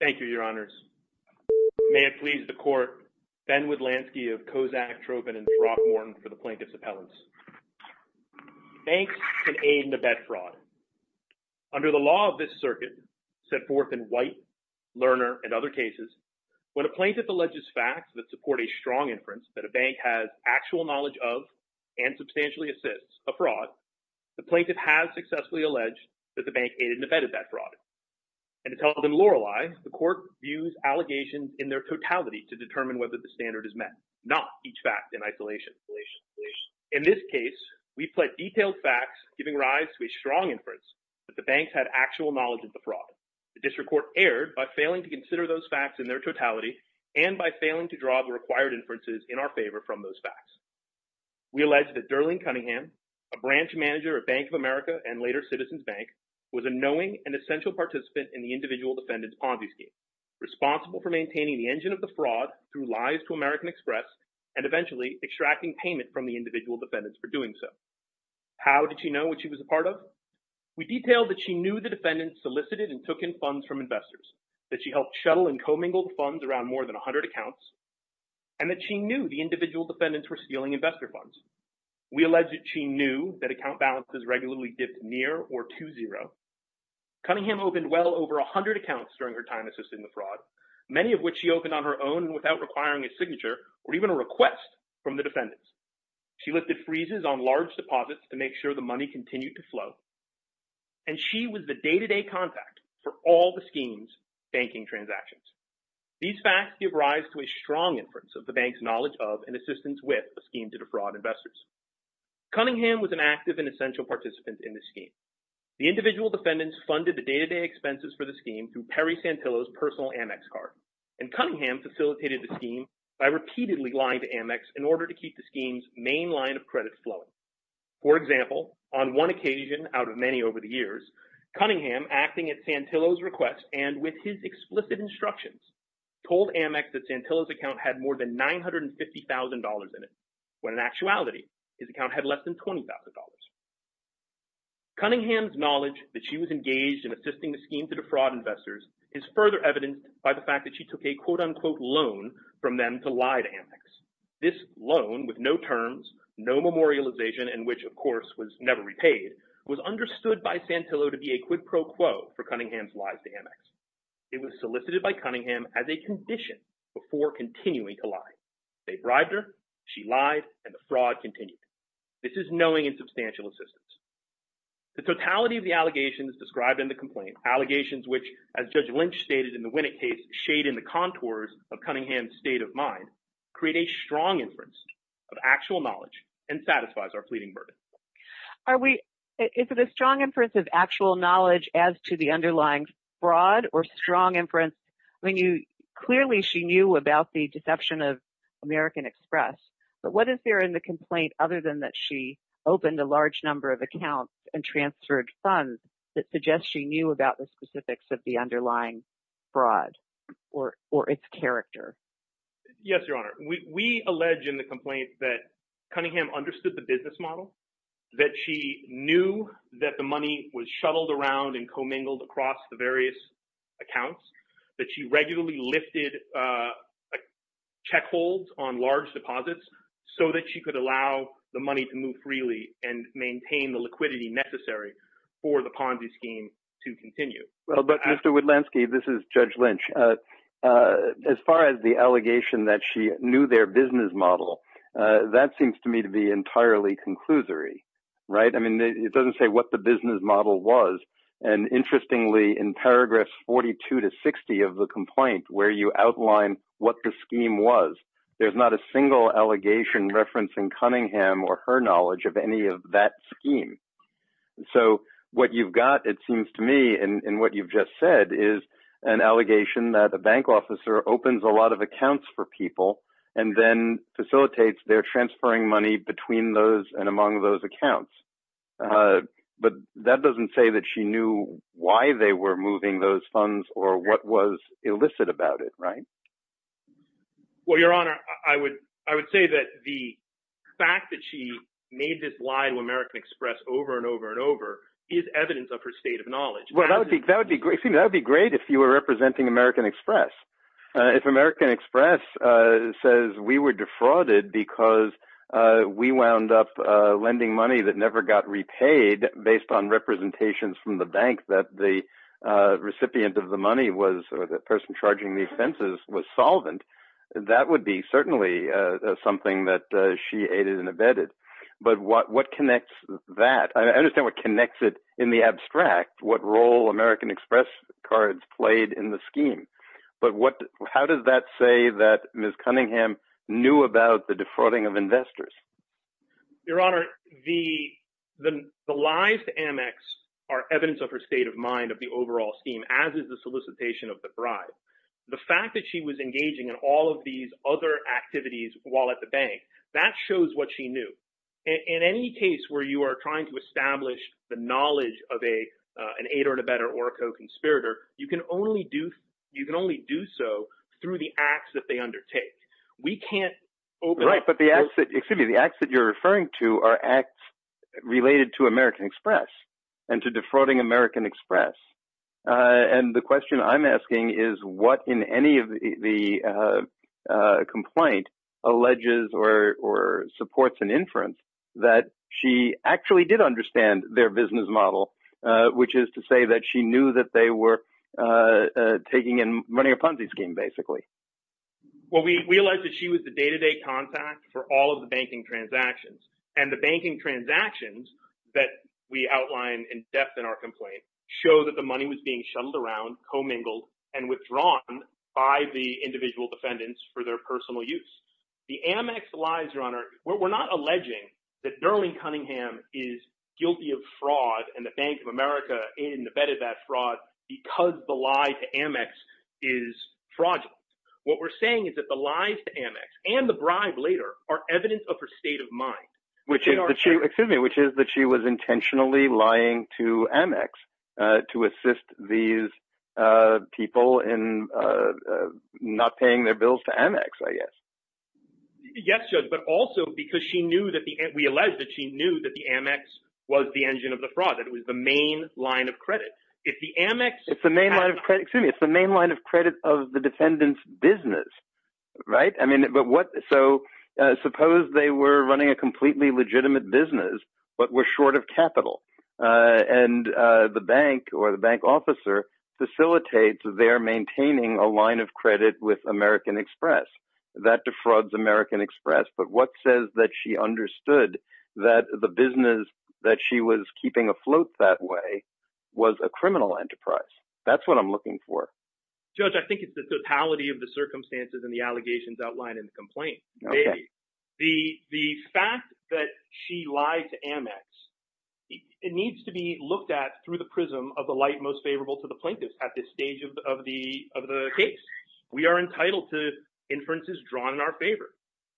Thank you, Your Honors. May it please the Court, Ben Widlansky of Kozak-Tropen and Brock-Morton for the Plaintiff's Appellants. Banks can aid in a bet fraud. Under the law of this circuit, set forth in White, Lerner, and other cases, when a plaintiff alleges facts that support a strong inference that a bank has actual knowledge of and substantially assists a fraud, the plaintiff has successfully alleged that the bank aided and abetted that fraud. And to tell them lore-wise, the Court views allegations in their totality to determine whether the standard is met, not each fact in isolation. In this case, we've pled detailed facts giving rise to a strong inference that the banks had actual knowledge of the fraud. The District Court erred by failing to consider those facts in their totality and by failing to draw the required inferences in our favor from those facts. We allege that Darlene Cunningham, a branch manager at Bank of America and later Citizens Bank, was a knowing and essential participant in the individual defendant's Ponzi scheme, responsible for maintaining the engine of the fraud through lies to American Express and eventually extracting payment from the individual defendants for doing so. How did she know what she was a part of? We detailed that she knew the defendants solicited and took in funds from investors, that she helped shuttle and commingle the funds around more than 100 accounts, and that she knew the individual defendants were stealing investor funds. We allege that she knew that account balances regularly dipped near or to zero. Cunningham opened well over 100 accounts during her time assisting the fraud, many of which she opened on her own and without requiring a signature or even a request from the defendants. She lifted freezes on large deposits to make sure the money continued to flow. And she was the day-to-day contact for all the schemes banking transactions. These facts give rise to a strong inference of the bank's knowledge of and assistance with a scheme to defraud investors. Cunningham was an active and essential participant in this scheme. The individual defendants funded the day-to-day expenses for the scheme through Perry Santillo's personal Amex card. And Cunningham facilitated the scheme by repeatedly lying to Amex in order to keep the scheme's main line of credit flowing. For example, on one occasion out of many over the years, Cunningham acting at Santillo's request and with his explicit instructions told Amex that Santillo's account had more than $950,000 in it, when in actuality his account had less than $20,000. Cunningham's knowledge that she was engaged in assisting the scheme to defraud investors is further evidenced by the fact that she took a quote-unquote loan from them to lie to Amex. This loan with no terms, no memorialization, and which of course was never repaid, was understood by Cunningham's lies to Amex. It was solicited by Cunningham as a condition before continuing to lie. They bribed her, she lied, and the fraud continued. This is knowing and substantial assistance. The totality of the allegations described in the complaint, allegations which, as Judge Lynch stated in the Winnick case, shade in the contours of Cunningham's state of mind, create a strong inference of actual knowledge and satisfies our pleading burden. Are we, is it a strong inference of actual knowledge as to the underlying fraud or strong inference when you, clearly she knew about the deception of American Express, but what is there in the complaint other than that she opened a large number of accounts and transferred funds that suggests she knew about the specifics of the underlying fraud or its character? Yes, Your Honor. We allege in the complaint that Cunningham understood the business model, that she knew that the money was shuttled around and commingled across the various accounts, that she regularly lifted checkholds on large deposits so that she could allow the money to move freely and maintain the liquidity necessary for the Ponzi scheme to continue. Well, but Mr. Woodlansky, this is Judge Lynch. As far as the allegation that she knew their business model, that seems to me to be entirely conclusory, right? I mean, it doesn't say what the business model was. And interestingly, in paragraphs 42 to 60 of the complaint where you outline what the scheme was, there's not a single allegation referencing Cunningham or her knowledge of any of that scheme. So what you've got, it seems to me, and what you've just said is an allegation that a bank officer opens a lot of accounts for people and then facilitates their transferring money between those and among those accounts. But that doesn't say that she knew why they were moving those funds or what was illicit about it, right? Well, Your Honor, I would say that the fact that she made this lie to American Express over and over and over is evidence of her state of knowledge. Well, that would be great if you were representing American Express. If American Express says we were defrauded because we wound up lending money that never got repaid based on representations from the bank that the recipient of the money was or the person charging these fences was solvent, that would be certainly something that she aided and abetted. But what connects that? I understand what connects it in the abstract, what role American Express cards played in the scheme. But how does that say that Ms. Cunningham knew about the defrauding of investors? Your Honor, the lies to Amex are evidence of her state of mind of the overall scheme, as is the solicitation of the bribe. The fact that she was engaging in all of these other activities while at the bank, that shows what she knew. In any case where you are trying to establish the knowledge of an aid or abettor or a co-conspirator, you can only do so through the acts that they undertake. We can't open up those... Excuse me, the acts that you're referring to are acts related to American Express and to defrauding American Express. And the question I'm asking is what in any of the complaint alleges or supports an inference that she actually did understand their business model, which is to say that she knew that they were taking and running a Ponzi scheme, basically. Well, we realize that she was the day-to-day contact for all of the banking transactions. And the banking transactions that we outline in depth in our complaint show that the money was being shuttled around, commingled, and withdrawn by the individual defendants for their personal use. The Amex lies, Your Honor, we're not alleging that Darlene Cunningham is guilty of fraud and the Bank of America in abetted that fraud because the lie to Amex is fraudulent. What we're saying is that the lies to Amex and the bribe later are evidence of her state of mind. Which is that she was intentionally lying to Amex to assist these people in not paying their bills to Amex, I guess. Yes, Judge, but also because we allege that she knew that the Amex was the engine of the fraud, that it was the main line of credit. It's the main line of credit, excuse me, it's the main line of credit of the defendant's business, right? I mean, but what, so suppose they were running a completely legitimate business, but were short of capital, and the bank or the bank officer facilitates their maintaining a line of credit with American Express. That defrauds American Express, but what says that she understood that the business that she was keeping afloat that way was a criminal enterprise? That's what I'm looking for. Judge, I think it's the totality of the circumstances and the allegations outlined in the complaint. The fact that she lied to Amex, it needs to be looked at through the prism of the light most favorable to the plaintiffs at this stage of the case. We are entitled to inferences drawn in our favor,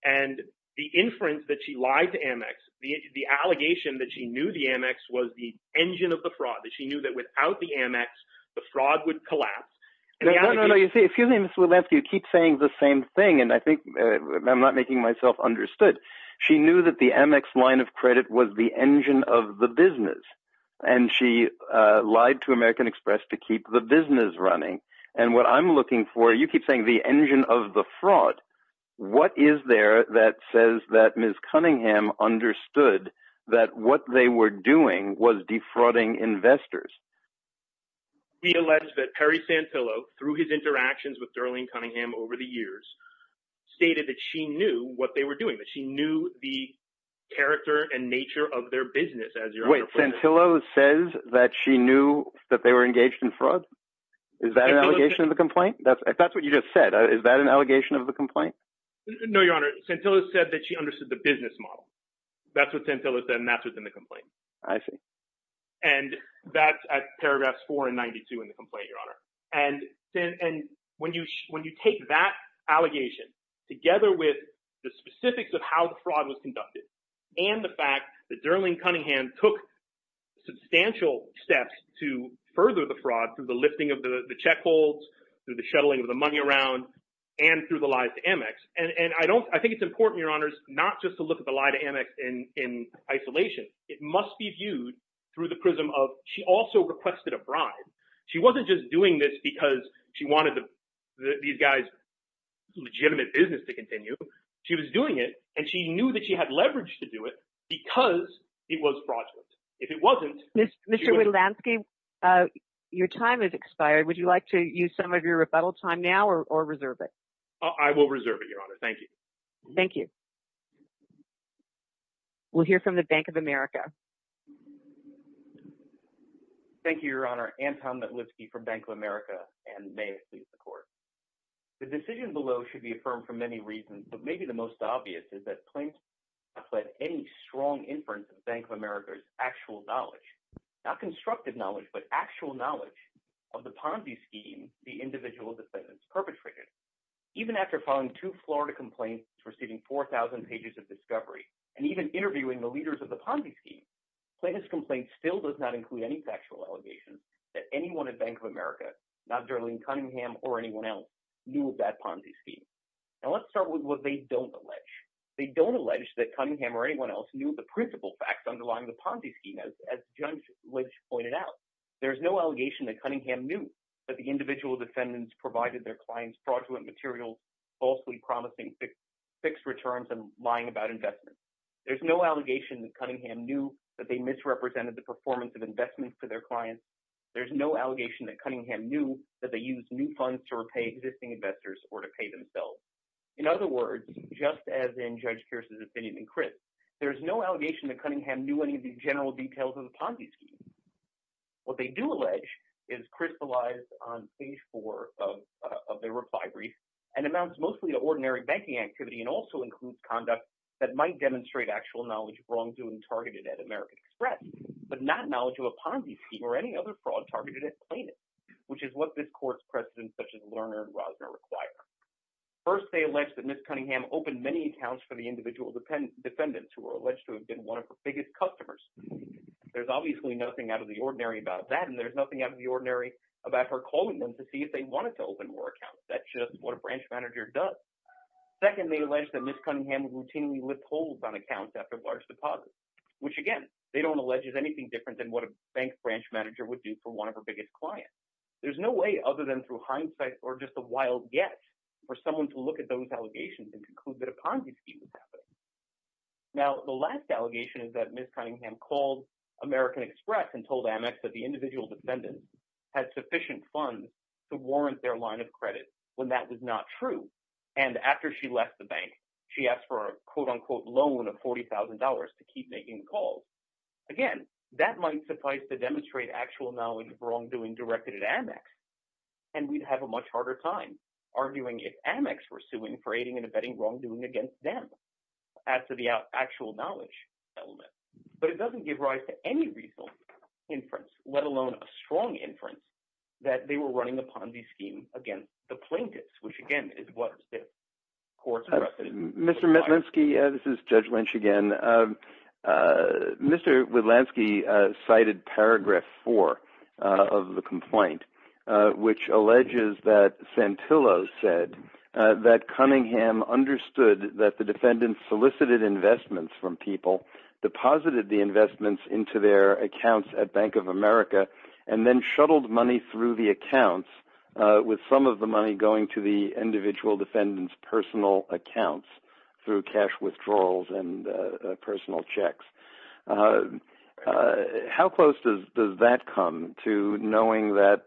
and the inference that she lied to Amex, the allegation that she knew the Amex was the engine of the fraud, that she knew that without the Amex, the fraud would collapse. No, no, no, you see, excuse me, Mr. Williams, you keep saying the same thing, and I think I'm not making myself understood. She knew that the Amex line of credit was the engine of the business, and she lied to American Express to keep the business running, and what I'm looking for, you keep saying the engine of the fraud. What is there that says that Ms. Cunningham understood that what they were doing was defrauding investors? We allege that Perry Santillo, through his interactions with Darlene Cunningham over the years, stated that she knew what they were doing, that she knew the character and nature of their business as your- Wait, Santillo says that she knew that they were defrauding investors? Is that an allegation of the complaint? If that's what you just said, is that an allegation of the complaint? No, Your Honor, Santillo said that she understood the business model. That's what Santillo said, and that's what's in the complaint. I see. And that's at paragraphs 4 and 92 in the complaint, Your Honor. And when you take that allegation together with the specifics of how the fraud was conducted, and the fact that Darlene Cunningham took substantial steps to lift the checkholds, through the shuttling of the money around, and through the lies to Amex. And I think it's important, Your Honors, not just to look at the lie to Amex in isolation. It must be viewed through the prism of, she also requested a bribe. She wasn't just doing this because she wanted these guys' legitimate business to continue. She was doing it, and she knew that she had leverage to do it because it was fraudulent. If it wasn't- Mr. Wilansky, your time has expired. Would you like to use some of your rebuttal time now, or reserve it? I will reserve it, Your Honor. Thank you. Thank you. We'll hear from the Bank of America. Thank you, Your Honor. Anton Matlitsky from Bank of America, and may it please the Court. The decision below should be affirmed for many reasons, but maybe the most obvious is that not constructive knowledge, but actual knowledge of the Ponzi scheme the individual defendants perpetrated. Even after filing two Florida complaints, receiving 4,000 pages of discovery, and even interviewing the leaders of the Ponzi scheme, Plaintiff's complaint still does not include any factual allegations that anyone at Bank of America, not Darlene Cunningham or anyone else, knew of that Ponzi scheme. Now let's start with what they don't allege. They don't allege that Cunningham or anyone else knew the principal facts underlying the Ponzi scheme, as Judge Lynch pointed out. There's no allegation that Cunningham knew that the individual defendants provided their clients fraudulent material, falsely promising fixed returns, and lying about investments. There's no allegation that Cunningham knew that they misrepresented the performance of investments for their clients. There's no allegation that Cunningham knew that they used new funds to repay existing investors or to pay themselves. In other words, just as in Judge Pierce's opinion in Chris, there's no allegation that Cunningham knew any of the general details of the Ponzi scheme. What they do allege is crystallized on page four of their reply brief and amounts mostly to ordinary banking activity and also includes conduct that might demonstrate actual knowledge of wrongdoing targeted at American Express, but not knowledge of a Ponzi scheme or any other fraud targeted at plaintiffs, which is what this court's precedents such as Lerner and Defendants, who are alleged to have been one of her biggest customers. There's obviously nothing out of the ordinary about that, and there's nothing out of the ordinary about her calling them to see if they wanted to open more accounts. That's just what a branch manager does. Second, they allege that Ms. Cunningham routinely lifts holds on accounts after large deposits, which again, they don't allege is anything different than what a bank branch manager would do for one of her biggest clients. There's no way other than through hindsight or just a wild guess for someone to look at those allegations and conclude that a Ponzi scheme was happening. Now, the last allegation is that Ms. Cunningham called American Express and told Amex that the individual descendants had sufficient funds to warrant their line of credit when that was not true, and after she left the bank, she asked for a quote-unquote loan of $40,000 to keep making the calls. Again, that might suffice to demonstrate actual knowledge of wrongdoing directed at Amex, and we'd have a much harder time arguing if Amex were suing for aiding and abetting wrongdoing against them as to the actual knowledge element, but it doesn't give rise to any reasonable inference, let alone a strong inference, that they were running a Ponzi scheme against the plaintiffs, which again is what the court's reference is. Mr. Metlinsky, this is Judge Lynch again. Mr. Wetlansky cited Paragraph 4 of the complaint, which alleges that Santillo said that Cunningham understood that the defendants solicited investments from people, deposited the investments into their accounts at Bank of America, and then shuttled money through the accounts, with some of the money going to the individual defendants' personal accounts through cash withdrawals and personal checks. How close does that come to knowing that,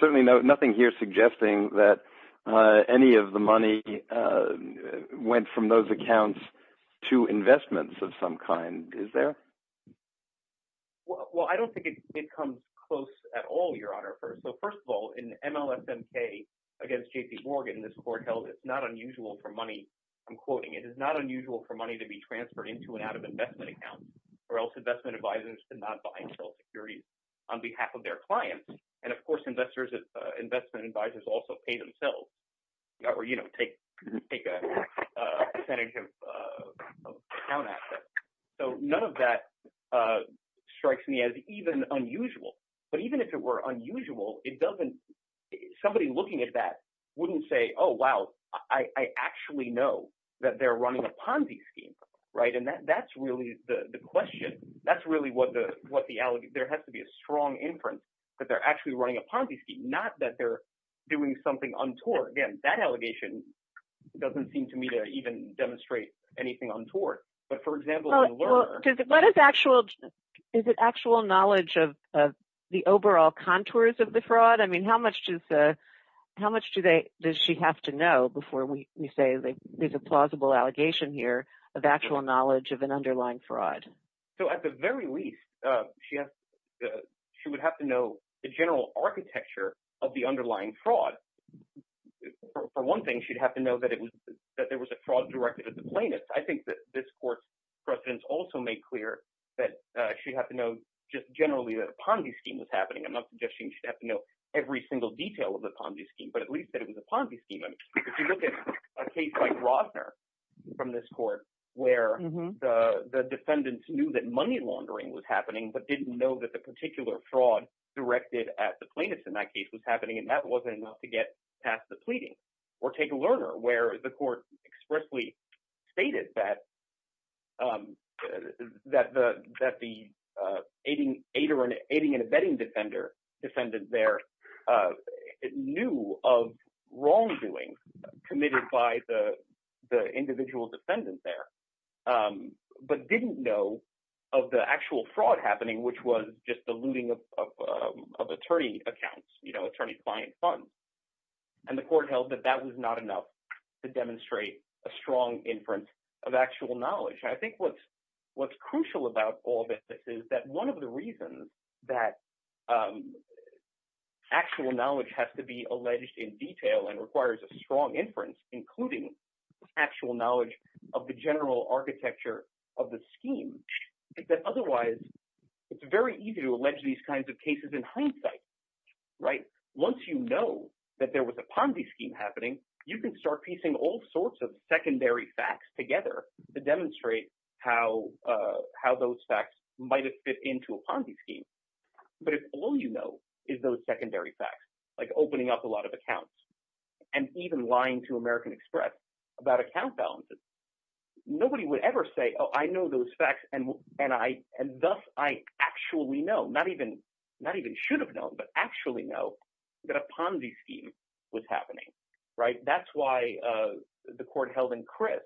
certainly nothing here suggesting that any of the money went from those accounts to investments of some kind, is there? Well, I don't think it comes close at all, Your Honor. First of all, in MLSMK against J.P. Morgan, this court held it not unusual for money I'm quoting, it is not unusual for money to be transferred into and out of investment accounts, or else investment advisors did not buy insurance securities on behalf of their clients. And of course, investment advisors also pay themselves, or take a percentage of account assets. So none of that strikes me as even unusual. But even if it were unusual, somebody looking at that wouldn't say, oh, wow, I actually know that they're running a Ponzi scheme, right? And that's really the question. That's really what the allegation, there has to be a strong inference that they're actually running a Ponzi scheme, not that they're doing something untoward. Again, that allegation doesn't seem to me to even demonstrate anything untoward. But for example, Is it actual knowledge of the overall contours of the fraud? I mean, how much how much does she have to know before we say there's a plausible allegation here of actual knowledge of an underlying fraud? So at the very least, she would have to know the general architecture of the underlying fraud. For one thing, she'd have to know that there was a fraud directed at the plaintiffs. I think that this court's precedents also made clear that she'd have to know just generally that a Ponzi scheme was happening. I'm not suggesting she'd have to know every single detail of the Ponzi scheme, but at least that it was a Ponzi scheme. I mean, if you look at a case like Rosner from this court, where the defendants knew that money laundering was happening, but didn't know that the particular fraud directed at the plaintiffs in that case was happening, and that wasn't enough to get past the pleading. Or take Lerner, where the court expressly stated that the aiding and abetting defendant there knew of wrongdoings committed by the individual defendant there, but didn't know of the actual fraud happening, which was just the looting of attorney accounts, attorney's client funds. And the court held that was not enough to demonstrate a strong inference of actual knowledge. I think what's crucial about all of this is that one of the reasons that actual knowledge has to be alleged in detail and requires a strong inference, including actual knowledge of the general architecture of the scheme, is that otherwise it's very easy to allege these kinds of cases in hindsight. Right? Once you know that there was a Ponzi scheme happening, you can start piecing all sorts of secondary facts together to demonstrate how those facts might have fit into a Ponzi scheme. But if all you know is those secondary facts, like opening up a lot of accounts, and even lying to American Express about account balances, nobody would ever say, I know those facts and thus I actually know, not even should have known, but actually know that a Ponzi scheme was happening. Right? That's why the court held in crisp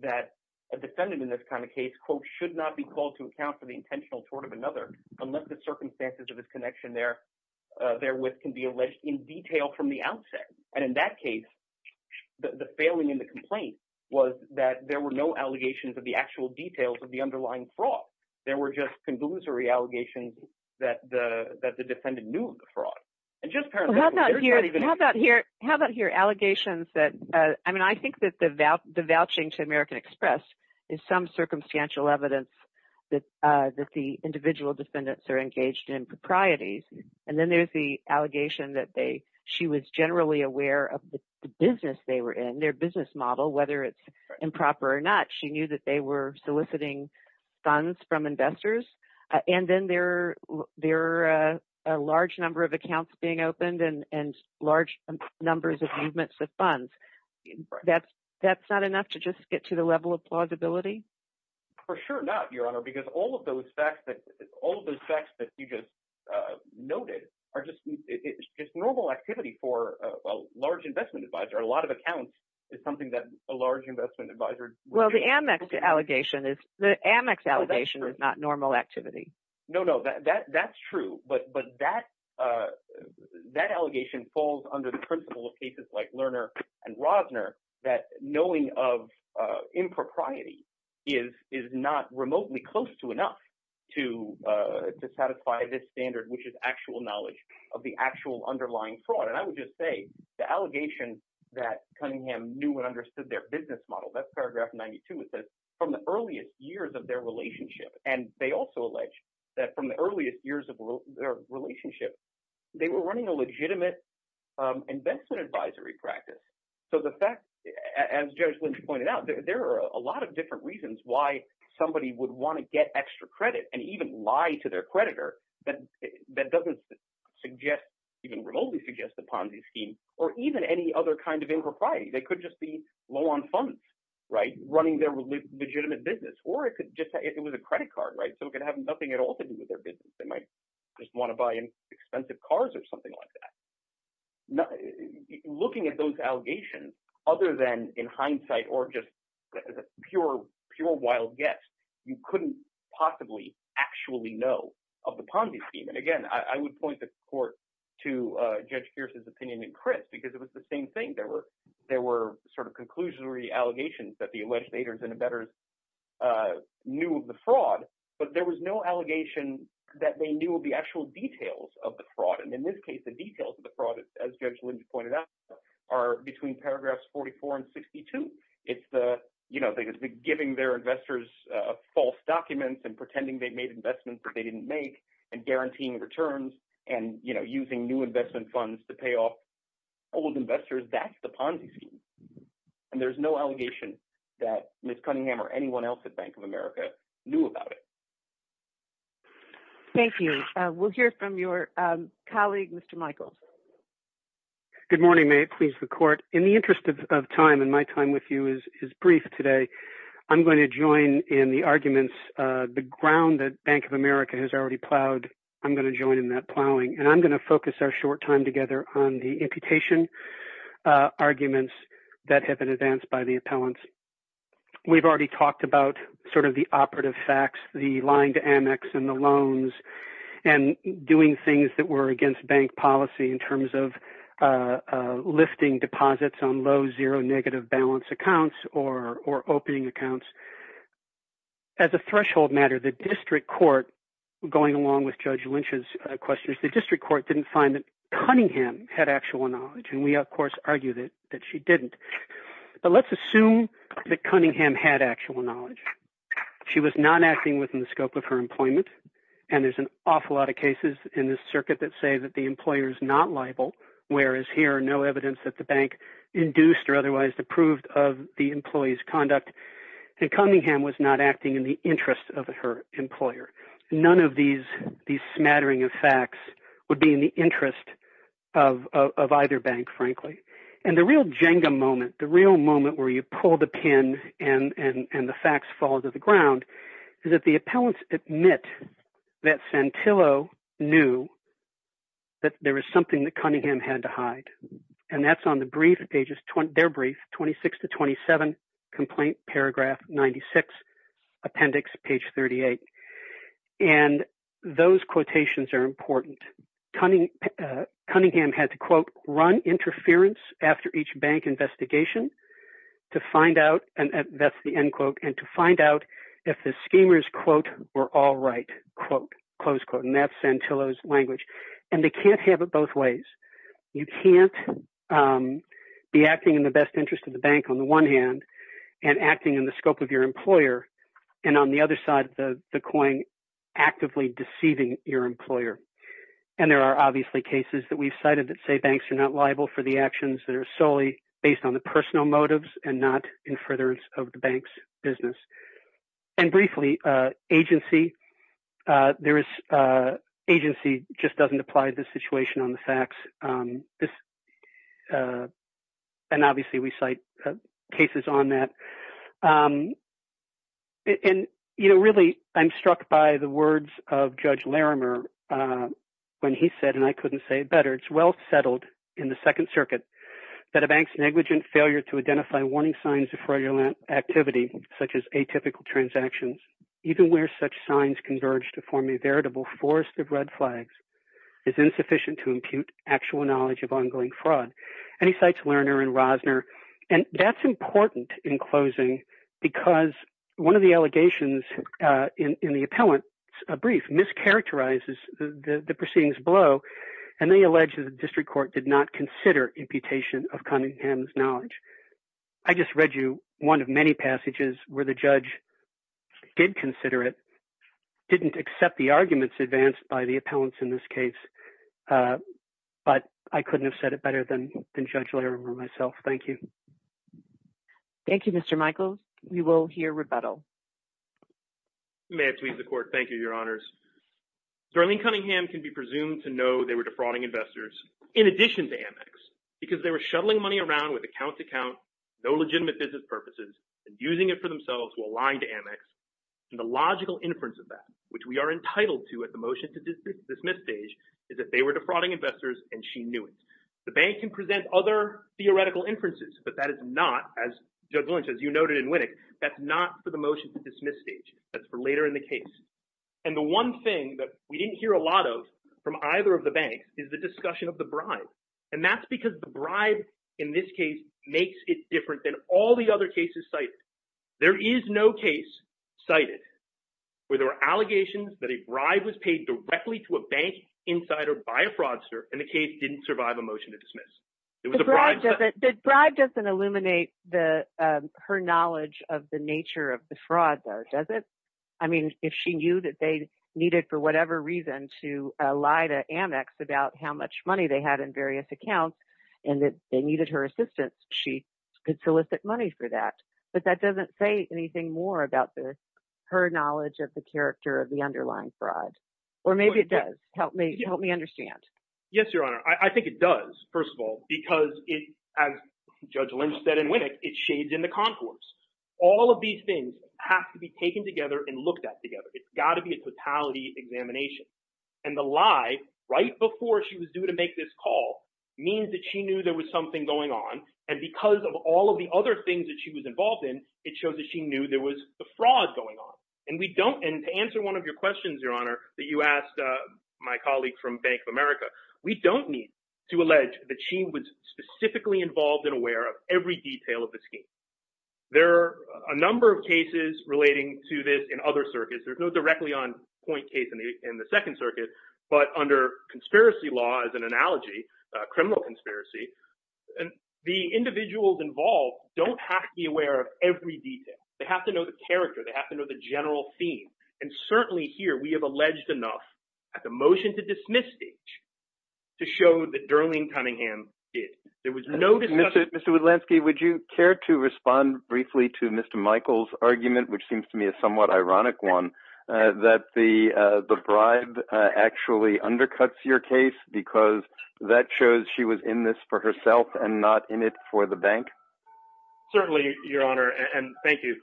that a defendant in this kind of case, quote, should not be called to account for the intentional fraud of another, unless the circumstances of his connection therewith can be alleged in detail from the outset. And in that case, the failing in the complaint was that there were no allegations of the actual details of the underlying fraud. There were just conglomerate allegations that the defendant knew of the fraud. And just how about here, how about here, how about here, allegations that, I mean, I think that the vouching to American Express is some circumstantial evidence that the individual defendants are engaged in propriety. And then there's the allegation that they, she was generally aware of the business they were in, their business model, whether it's improper or not, she knew that they were soliciting funds from investors. And then there are a large number of accounts being opened and large numbers of movements of funds. That's not enough to just get to the level of plausibility? For sure not, Your Honor, because all of those facts that you just noted are just normal activity for a large investment advisor. A lot of accounts is something that a large investment advisor- Well, the Amex allegation is, the Amex allegation is not normal activity. No, no, that's true. But that allegation falls under the principle of cases like Lerner and Rosner, that knowing of impropriety is not remotely close to enough to satisfy this standard, which is actual knowledge of the actual underlying fraud. And I would just say, the allegation that Cunningham knew and understood their business model, that's paragraph 92, it says from the earliest years of their relationship. And they also allege that from the earliest years of their relationship, they were running a legitimate investment advisory practice. So the fact, as Judge Lynch pointed out, there are a lot of different reasons why somebody would want to get extra credit and even lie to their creditor that doesn't suggest, even remotely suggest, the Ponzi scheme or even any other kind of impropriety. They could just be low on funds, right, running their legitimate business. Or it could just, it was a credit card, right, so it could have nothing at all to do with their business. They might just want to buy expensive cars or something like that. Looking at those allegations, other than in hindsight or just as a pure, pure wild guess, you couldn't possibly actually know of the Ponzi scheme. And again, I would point the court to Judge Kearse's opinion and Chris, because it was the same thing. There were sort of conclusionary allegations that the legislators and embedders knew of the fraud, but there was no allegation that they knew of the actual details of the fraud. And in this case, the details of the fraud, as Judge Lynch pointed out, are between paragraphs 44 and 62. It's the, you know, giving their investors false documents and pretending they made investments that they didn't make and guaranteeing returns and, you know, using new investment funds to pay off old investors. That's the Ponzi scheme. And there's no allegation that Ms. Cunningham or anyone else at Bank of America knew about it. Thank you. We'll hear from your colleague, Mr. Michael. Good morning. May it please the court. In the interest of time and my time with you is brief today, I'm going to join in the arguments, the ground that Bank of America has already plowed. I'm going to join in that plowing and I'm going to focus our short time together on the imputation arguments that have been advanced by the appellants. We've already talked about sort of the operative facts, the line to Amex and the loans and doing things that were against bank policy in terms of lifting deposits on low zero negative balance accounts or opening accounts. As a threshold matter, the district court going along with Judge Lynch's questions, the district court didn't find that Cunningham had actual knowledge. And we, of course, argue that she didn't. But let's assume that Cunningham had actual knowledge. She was not acting within the scope of her employment. And there's an awful lot of cases in this circuit that say that the employer is not liable, whereas here are no evidence that the bank induced or otherwise approved of the employee's conduct. And Cunningham was not acting in the interest of her employer. None of these these smattering of facts would be in the interest of either bank, frankly. And the real Jenga moment, the real moment where you pull the pin and the facts fall to the ground is that the appellants admit that Santillo knew that there was something that Cunningham had to hide. And that's on the brief pages, their brief, 26 to 27 complaint, paragraph 96, appendix page 38. And those quotations are important. Cunningham had to, quote, run interference after each bank investigation to find out. And that's the end quote. And to find out if the schemers, quote, were all right, quote, close quote. And that's Santillo's language. And they can't have it both ways. You can't be acting in the best interest of the bank on the one hand and acting in the scope of your employer. And on the other side of the coin, actively deceiving your employer. And there are obviously cases that we've cited that say banks are not liable for the actions that are solely based on the personal motives and not in furtherance of the bank's business. And briefly, agency, there is agency just doesn't apply the situation on the facts. And obviously, we cite cases on that. And, you know, really, I'm struck by the words of Judge Larimer when he said, and I couldn't say it better, it's well settled in the Second Circuit that a bank's negligent failure to identify warning signs of fraudulent activity, such as atypical transactions, even where such signs converge to form a veritable forest of red flags, is insufficient to impute actual knowledge of ongoing fraud. And he cites Lerner and Rosner. And that's important in closing, because one of the allegations in the appellant's brief mischaracterizes the proceedings below. And they allege that the district court did not consider imputation of Cunningham's knowledge. I just read you one of many passages where the judge did consider it, didn't accept the arguments advanced by the appellants in this case. But I couldn't have said it better than Judge Larimer myself. Thank you. Thank you, Mr. Michael. We will hear rebuttal. You may have to leave the court. Thank you, Your Honors. Darlene Cunningham can be presumed to know they were defrauding investors, in addition to Amex, because they were shuttling money around with account-to-account, no legitimate business purposes, and using it for themselves while lying to Amex. And the logical inference of that, which we are entitled to at the motion-to-dismiss stage, is that they were defrauding investors and she knew it. The bank can present other theoretical inferences, but that is not, as Judge Lynch, as you noted in Winnick, that's not for the motion-to-dismiss stage. That's for later in the case. And the one thing that we didn't hear a lot from either of the banks is the discussion of the bribe. And that's because the bribe in this case makes it different than all the other cases cited. There is no case cited where there are allegations that a bribe was paid directly to a bank insider by a fraudster and the case didn't survive a motion-to-dismiss. The bribe doesn't illuminate her knowledge of the nature of the lie to Amex about how much money they had in various accounts and that they needed her assistance. She could solicit money for that. But that doesn't say anything more about her knowledge of the character of the underlying fraud. Or maybe it does. Help me understand. Yes, Your Honor. I think it does, first of all, because as Judge Lynch said in Winnick, it shades in the concourse. All of these things have to be taken together and looked at together. It's got to be a totality examination. And the lie right before she was due to make this call means that she knew there was something going on. And because of all of the other things that she was involved in, it shows that she knew there was a fraud going on. And to answer one of your questions, Your Honor, that you asked my colleague from Bank of America, we don't need to allege that she was specifically involved and aware of every detail of the scheme. There are a number of cases relating to this in other circuits. There's no directly on point case in the Second Circuit. But under conspiracy law, as an analogy, criminal conspiracy, the individuals involved don't have to be aware of every detail. They have to know the character. They have to know the general theme. And certainly here, we have alleged enough at the motion to dismiss stage to show that Darlene Cunningham did. There was no dismissal. Mr. Woodlansky, would you care to respond briefly to Mr. Michael's argument, which seems to me a somewhat ironic one, that the bribe actually undercuts your case because that shows she was in this for herself and not in it for the bank? Certainly, Your Honor. And thank you.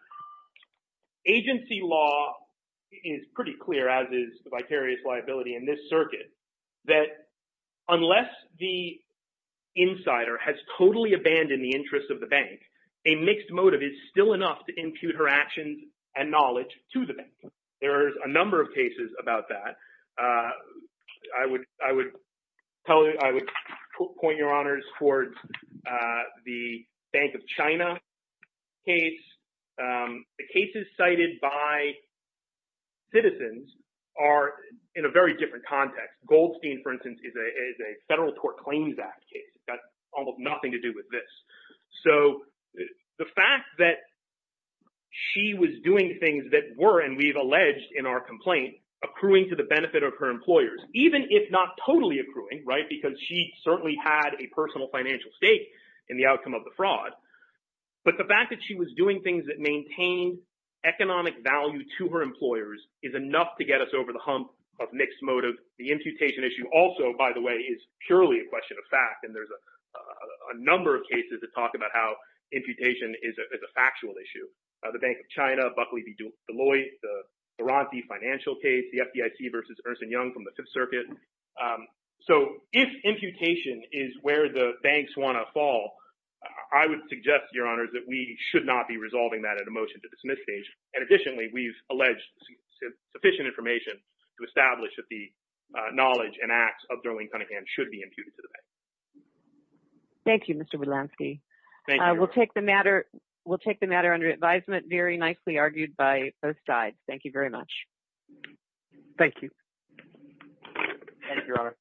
Agency law is pretty clear, as is the vicarious liability in this circuit, that unless the insider has totally abandoned the interest of the bank, a mixed motive is still enough to impute her actions and knowledge to the bank. There's a number of cases about that. I would point your honors towards the Bank of China case. The cases cited by citizens are in a very different context. Goldstein, for instance, is a Federal Court Claims Act case. It's got almost nothing to do with this. So the fact that she was doing things that were, and we've alleged in our complaint, accruing to the benefit of her employers, even if not totally accruing, right, because she certainly had a personal financial stake in the outcome of the fraud. But the fact that she was doing things that maintain economic value to her employers is enough to get us over the hump of mixed motive. The imputation issue also, by the way, is purely a question of fact. And there's a number of cases that talk about how imputation is a factual issue. The Bank of China, Buckley v. Deloitte, the Baranti financial case, the FDIC v. Ernst & Young from the Fifth Circuit. So if imputation is where the banks want to fall, I would suggest, Your Honors, that we should not be resolving that at a motion to dismiss stage. And additionally, we've acknowledged that the knowledge and acts of Darlene Cunningham should be imputed to the bank. Thank you, Mr. Wudlansky. We'll take the matter under advisement, very nicely argued by both sides. Thank you very much. Thank you. Thank you, Your Honor.